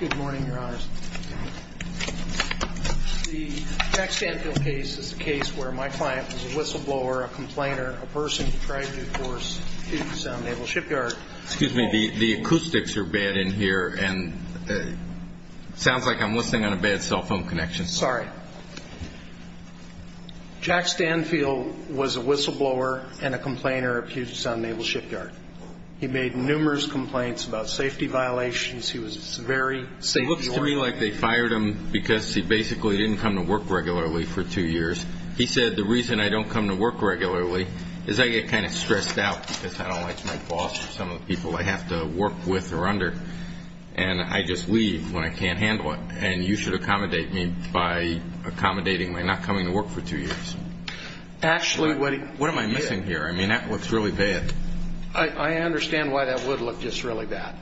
Good morning, your honors. The Jack Stanfill case is a case where my client was a whistleblower, a complainer, a person who tried to force the Puget Sound Naval Shipyard. Excuse me, the acoustics are bad in here, and it sounds like I'm listening on a bad cell phone connection. Sorry. Jack Stanfill was a whistleblower and a complainer at Puget Sound Naval Shipyard. He made numerous complaints about safety violations. He was very safety-oriented. It looks to me like they fired him because he basically didn't come to work regularly for two years. He said, the reason I don't come to work regularly is I get kind of stressed out because I don't like my boss or some of the people I have to work with or under, and I just leave when I can't handle it, and you should accommodate me by accommodating my not coming to work for two years. Actually, what am I missing here? I mean, that looks really bad. I understand why that would look just really bad.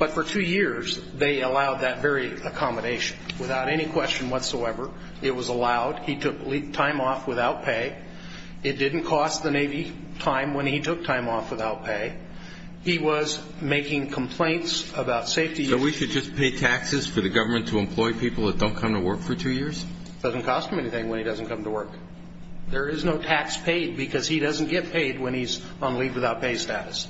But for two years, they allowed that very accommodation without any question whatsoever. It was allowed. He took time off without pay. It didn't cost the Navy time when he took time off without pay. He was making complaints about safety issues. So we should just pay taxes for the government to employ people that don't come to work for two years? It doesn't cost him anything when he doesn't come to work. There is no tax paid because he doesn't get paid when he's on leave without pay status.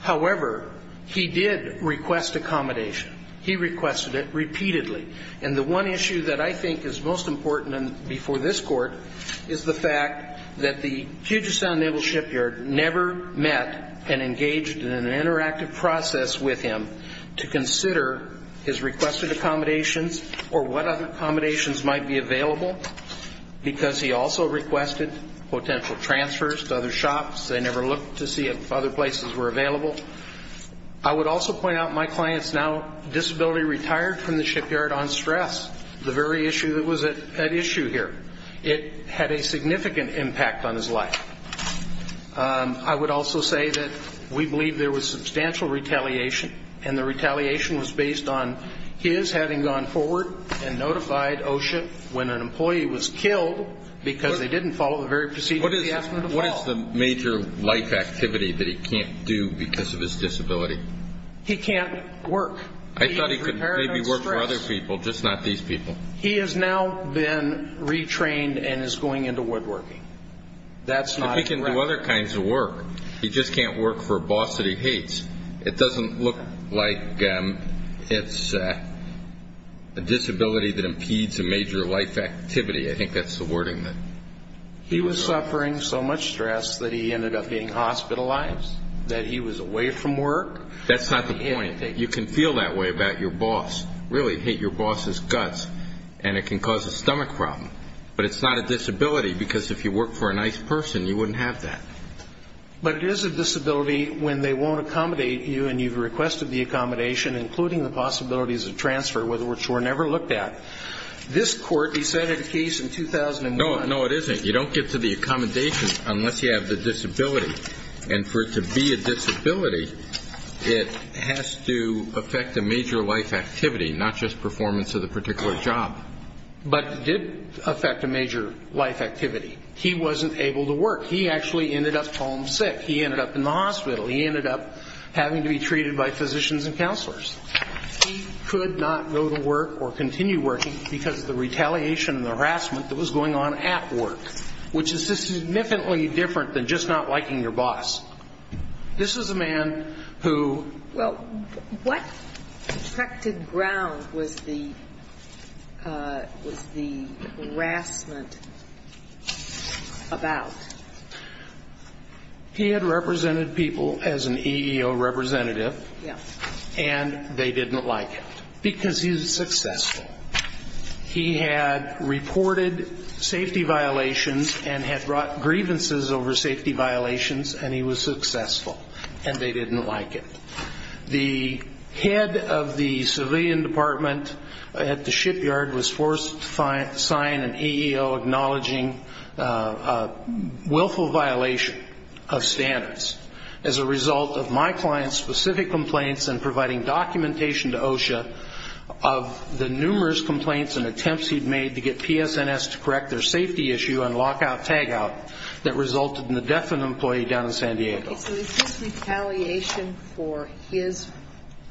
However, he did request accommodation. He requested it repeatedly. And the one issue that I think is most important before this Court is the fact that the Puget Sound Naval Shipyard never met and engaged in an interactive process with him to consider his requested accommodations or what other accommodations might be available because he also requested potential transfers to other shops. They never looked to see if other places were available. I would also point out my client's now disability retired from the shipyard on stress, the very issue that was at issue here. It had a significant impact on his life. I would also say that we believe there was substantial retaliation, and the retaliation was based on his having gone forward and notified OSHA when an employee was killed because they didn't follow the very procedure he asked them to follow. What is the major life activity that he can't do because of his disability? He can't work. He's repairing on stress. I thought he could maybe work for other people, just not these people. He has now been retrained and is going into woodworking. That's not correct. But he can do other kinds of work. He just can't work for a boss that he hates. It doesn't look like it's a disability that impedes a major life activity. I think that's the wording that... He was suffering so much stress that he ended up getting hospitalized, that he was away from work. That's not the point. You can feel that way about your boss, really hate your boss's guts, and it can cause a stomach problem. But it's not a disability because if you work for a nice person, you wouldn't have that. But it is a disability when they won't accommodate you and you've requested the accommodation, including the possibilities of transfer, which were never looked at. This court, he said in a case in 2001... No, it isn't. You don't get to the accommodation unless you have the disability. And for it to be a disability, it has to affect a major life activity, not just performance of the particular job. But it did affect a major life activity. He wasn't able to work. He actually ended up homesick. He ended up in the hospital. He ended up having to be treated by physicians and counselors. He could not go to work or continue working because of the retaliation and the harassment that was going on at work, which is significantly different than just not liking your boss. This is a man who... Connected ground was the harassment about. He had represented people as an EEO representative and they didn't like it because he was successful. He had reported safety violations and had brought grievances over safety violations and he was successful. And they didn't like it. The head of the civilian department at the shipyard was forced to sign an EEO acknowledging willful violation of standards as a result of my client's specific complaints and providing documentation to OSHA of the numerous complaints and attempts he'd made to get PSNS to correct their safety issue on lockout tagout that resulted in the death of an employee down in San Diego. So is this retaliation for his,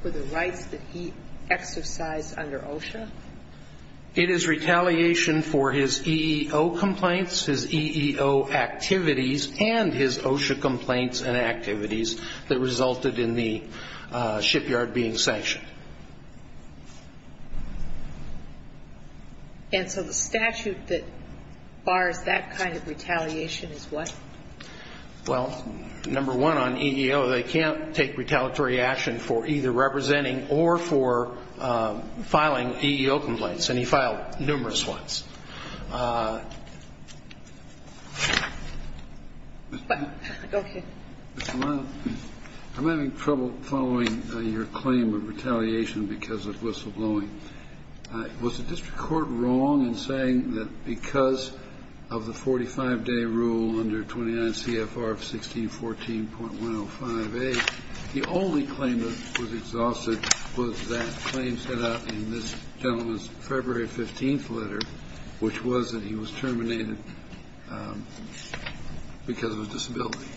for the rights that he exercised under OSHA? It is retaliation for his EEO complaints, his EEO activities and his OSHA complaints and activities that resulted in the shipyard being sanctioned. And so the statute that bars that kind of retaliation is what? Well, number one on EEO, they can't take retaliatory action for either representing or for filing EEO complaints and he filed numerous ones. Okay. I'm having trouble following your claim of retaliation because of whistleblowing. Was the district court wrong in saying that because of the 45-day rule under 29 CFR 1614.105A, the only claim that was exhausted was that claim set out in this gentleman's February 15th letter, which was that he was terminated because of a disability.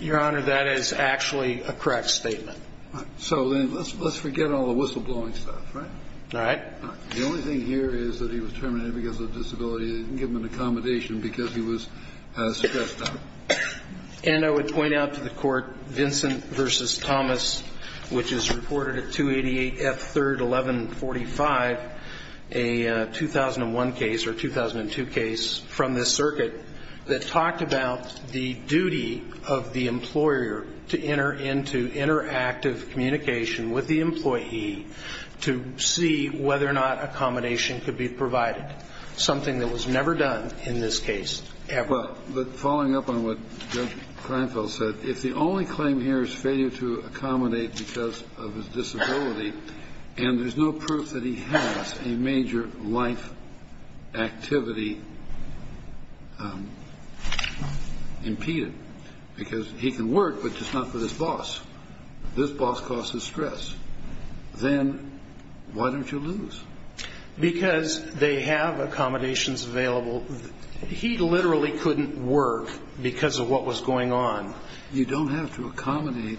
Your Honor, that is actually a correct statement. So then let's forget all the whistleblowing stuff, right? All right. The only thing here is that he was terminated because of a disability. They didn't give him an accommodation because he was stressed out. And I would point out to the court, Vincent v. Thomas, which is reported at 288 F. 3rd 1145, a 2001 case or 2002 case from this circuit that talked about the duty of the employer to enter into interactive communication with the employee to see whether or not accommodation could be provided, something that was never done in this case ever. Well, but following up on what Judge Kleinfeld said, if the only claim here is failure to accommodate because of his disability and there's no proof that he has a major life activity impeded because he can work, but just not for this boss, this boss causes stress, then why don't you lose? Because they have accommodations available. He literally couldn't work because of what was going on. You don't have to accommodate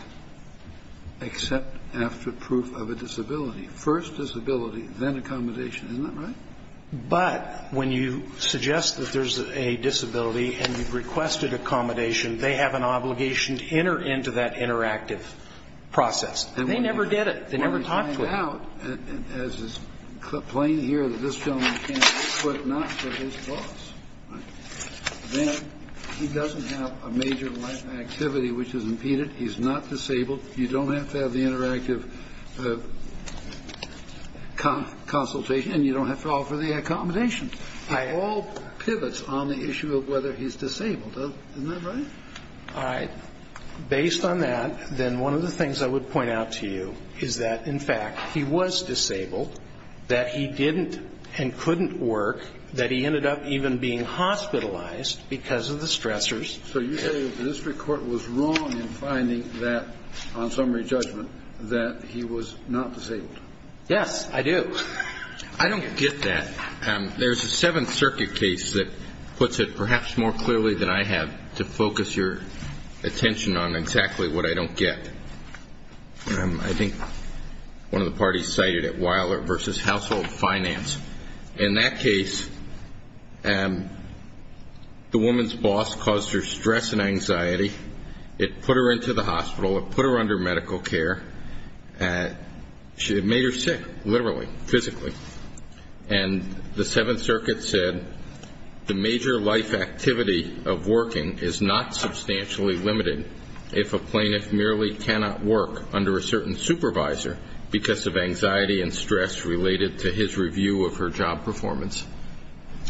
except after proof of a disability. First disability, then accommodation. Isn't that right? But when you suggest that there's a disability and you've requested accommodation, they have an obligation to enter into that interactive process. And they never did it. They never talked to him. As is plain here that this gentleman can't work, but not for this boss. Then he doesn't have a major life activity which is impeded. He's not disabled. You don't have to have the interactive consultation, and you don't have to offer the accommodation. It all pivots on the issue of whether he's disabled. Isn't that right? All right. Based on that, then one of the things I would point out to you is that, in fact, he was disabled, that he didn't and couldn't work, that he ended up even being hospitalized because of the stressors. So you say the district court was wrong in finding that, on summary judgment, that he was not disabled? Yes, I do. I don't get that. There's a Seventh Circuit case that puts it perhaps more clearly than I have to focus your attention on exactly what I don't get. I think one of the parties cited it, Weiler v. Household Finance. In that case, the woman's boss caused her stress and anxiety. It put her into the hospital. It put her under medical care. It made her sick, literally, physically. And the Seventh Circuit said the major life activity of working is not substantially limited if a plaintiff merely cannot work under a certain supervisor because of anxiety and stress related to his review of her job performance.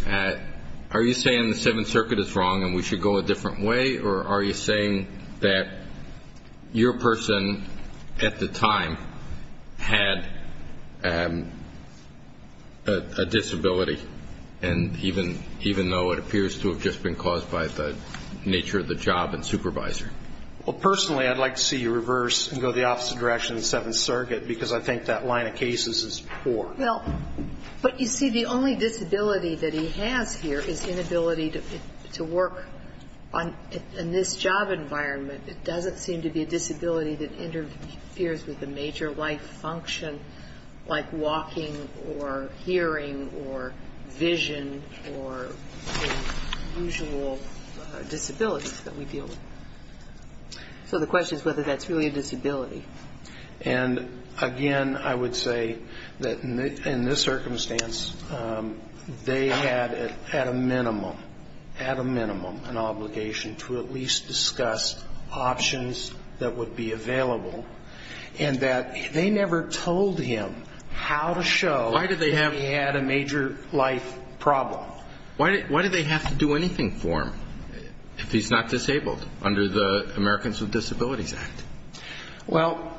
Are you saying the Seventh Circuit is wrong and we should go a different way, or are you saying that your person at the time had a disability, even though it appears to have just been caused by the nature of the job and supervisor? Well, personally, I'd like to see you reverse and go the opposite direction of the Seventh Circuit because I think that line of cases is poor. Well, but you see, the only disability that he has here is inability to work in this job environment. It doesn't seem to be a disability that interferes with the major life function, like walking or hearing or vision or the usual disabilities that we deal with. So the question is whether that's really a disability. And, again, I would say that in this circumstance, they had at a minimum, at a minimum, an obligation to at least discuss options that would be available, and that they never told him how to show that he had a major life problem. Why did they have to do anything for him if he's not disabled under the Americans with Disabilities Act? Well,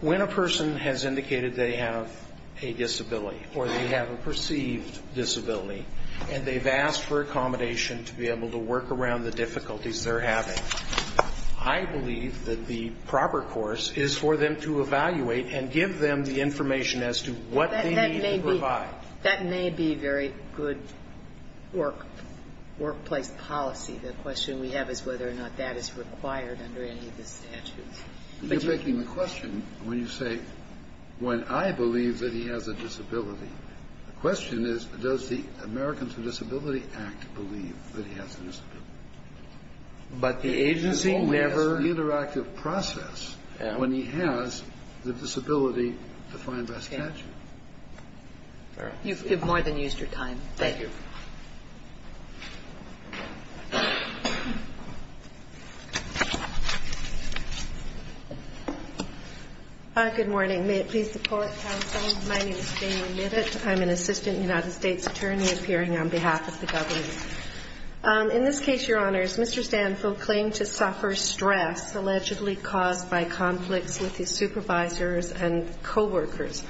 when a person has indicated they have a disability or they have a perceived disability and they've asked for accommodation to be able to work around the difficulties they're having, I believe that the proper course is for them to evaluate and give them the information as to what they need to provide. That may be very good workplace policy. The question we have is whether or not that is required under any of the statutes. But you're making the question when you say when I believe that he has a disability. The question is, does the Americans with Disability Act believe that he has a disability? But the agency never has an interactive process when he has the disability defined by statute. All right. You've more than used your time. Thank you. Good morning. May it please the public counsel, my name is Damian Midditt. I'm an assistant United States attorney appearing on behalf of the government. In this case, Your Honors, Mr. Stanfield claimed to suffer stress allegedly caused by conflicts with his supervisors and coworkers.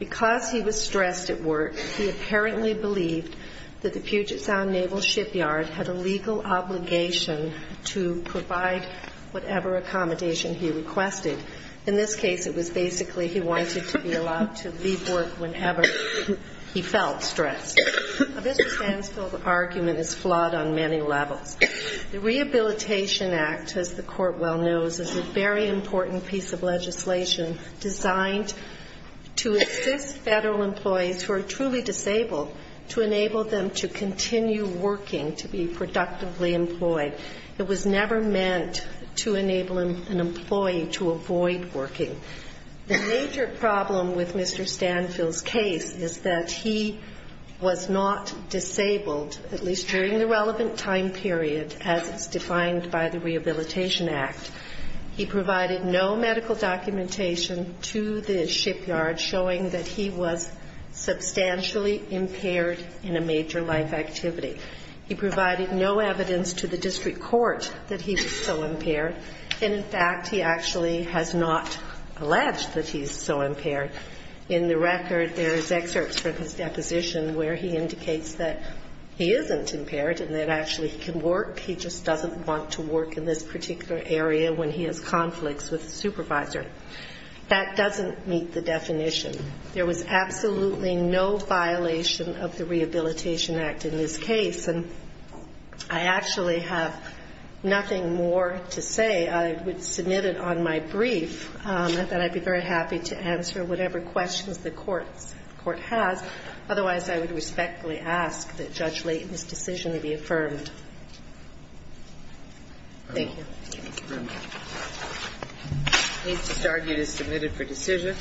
Because he was stressed at work, he apparently believed that the Puget Sound Naval Shipyard had a legal obligation to provide whatever accommodation he requested. In this case, it was basically he wanted to be allowed to leave work whenever he felt stressed. Mr. Stanfield's argument is flawed on many levels. The Rehabilitation Act, as the Court well knows, is a very important piece of legislation designed to assist federal employees who are truly disabled to enable them to continue working, to be productively employed. It was never meant to enable an employee to avoid working. The major problem with Mr. Stanfield's case is that he was not disabled, at least during the relevant time period, as is defined by the Rehabilitation Act. He provided no medical documentation to the shipyard showing that he was substantially impaired in a major life activity. He provided no evidence to the district court that he was so impaired. And, in fact, he actually has not alleged that he's so impaired. In the record, there's excerpts from his deposition where he indicates that he isn't impaired and that actually he can work. He just doesn't want to work in this particular area when he has conflicts with a supervisor. That doesn't meet the definition. There was absolutely no violation of the Rehabilitation Act in this case. And I actually have nothing more to say. I would submit it on my brief, and then I'd be very happy to answer whatever questions the Court has. Otherwise, I would respectfully ask that Judge Layton's decision be affirmed. Thank you. Thank you very much. This argument is submitted for decision.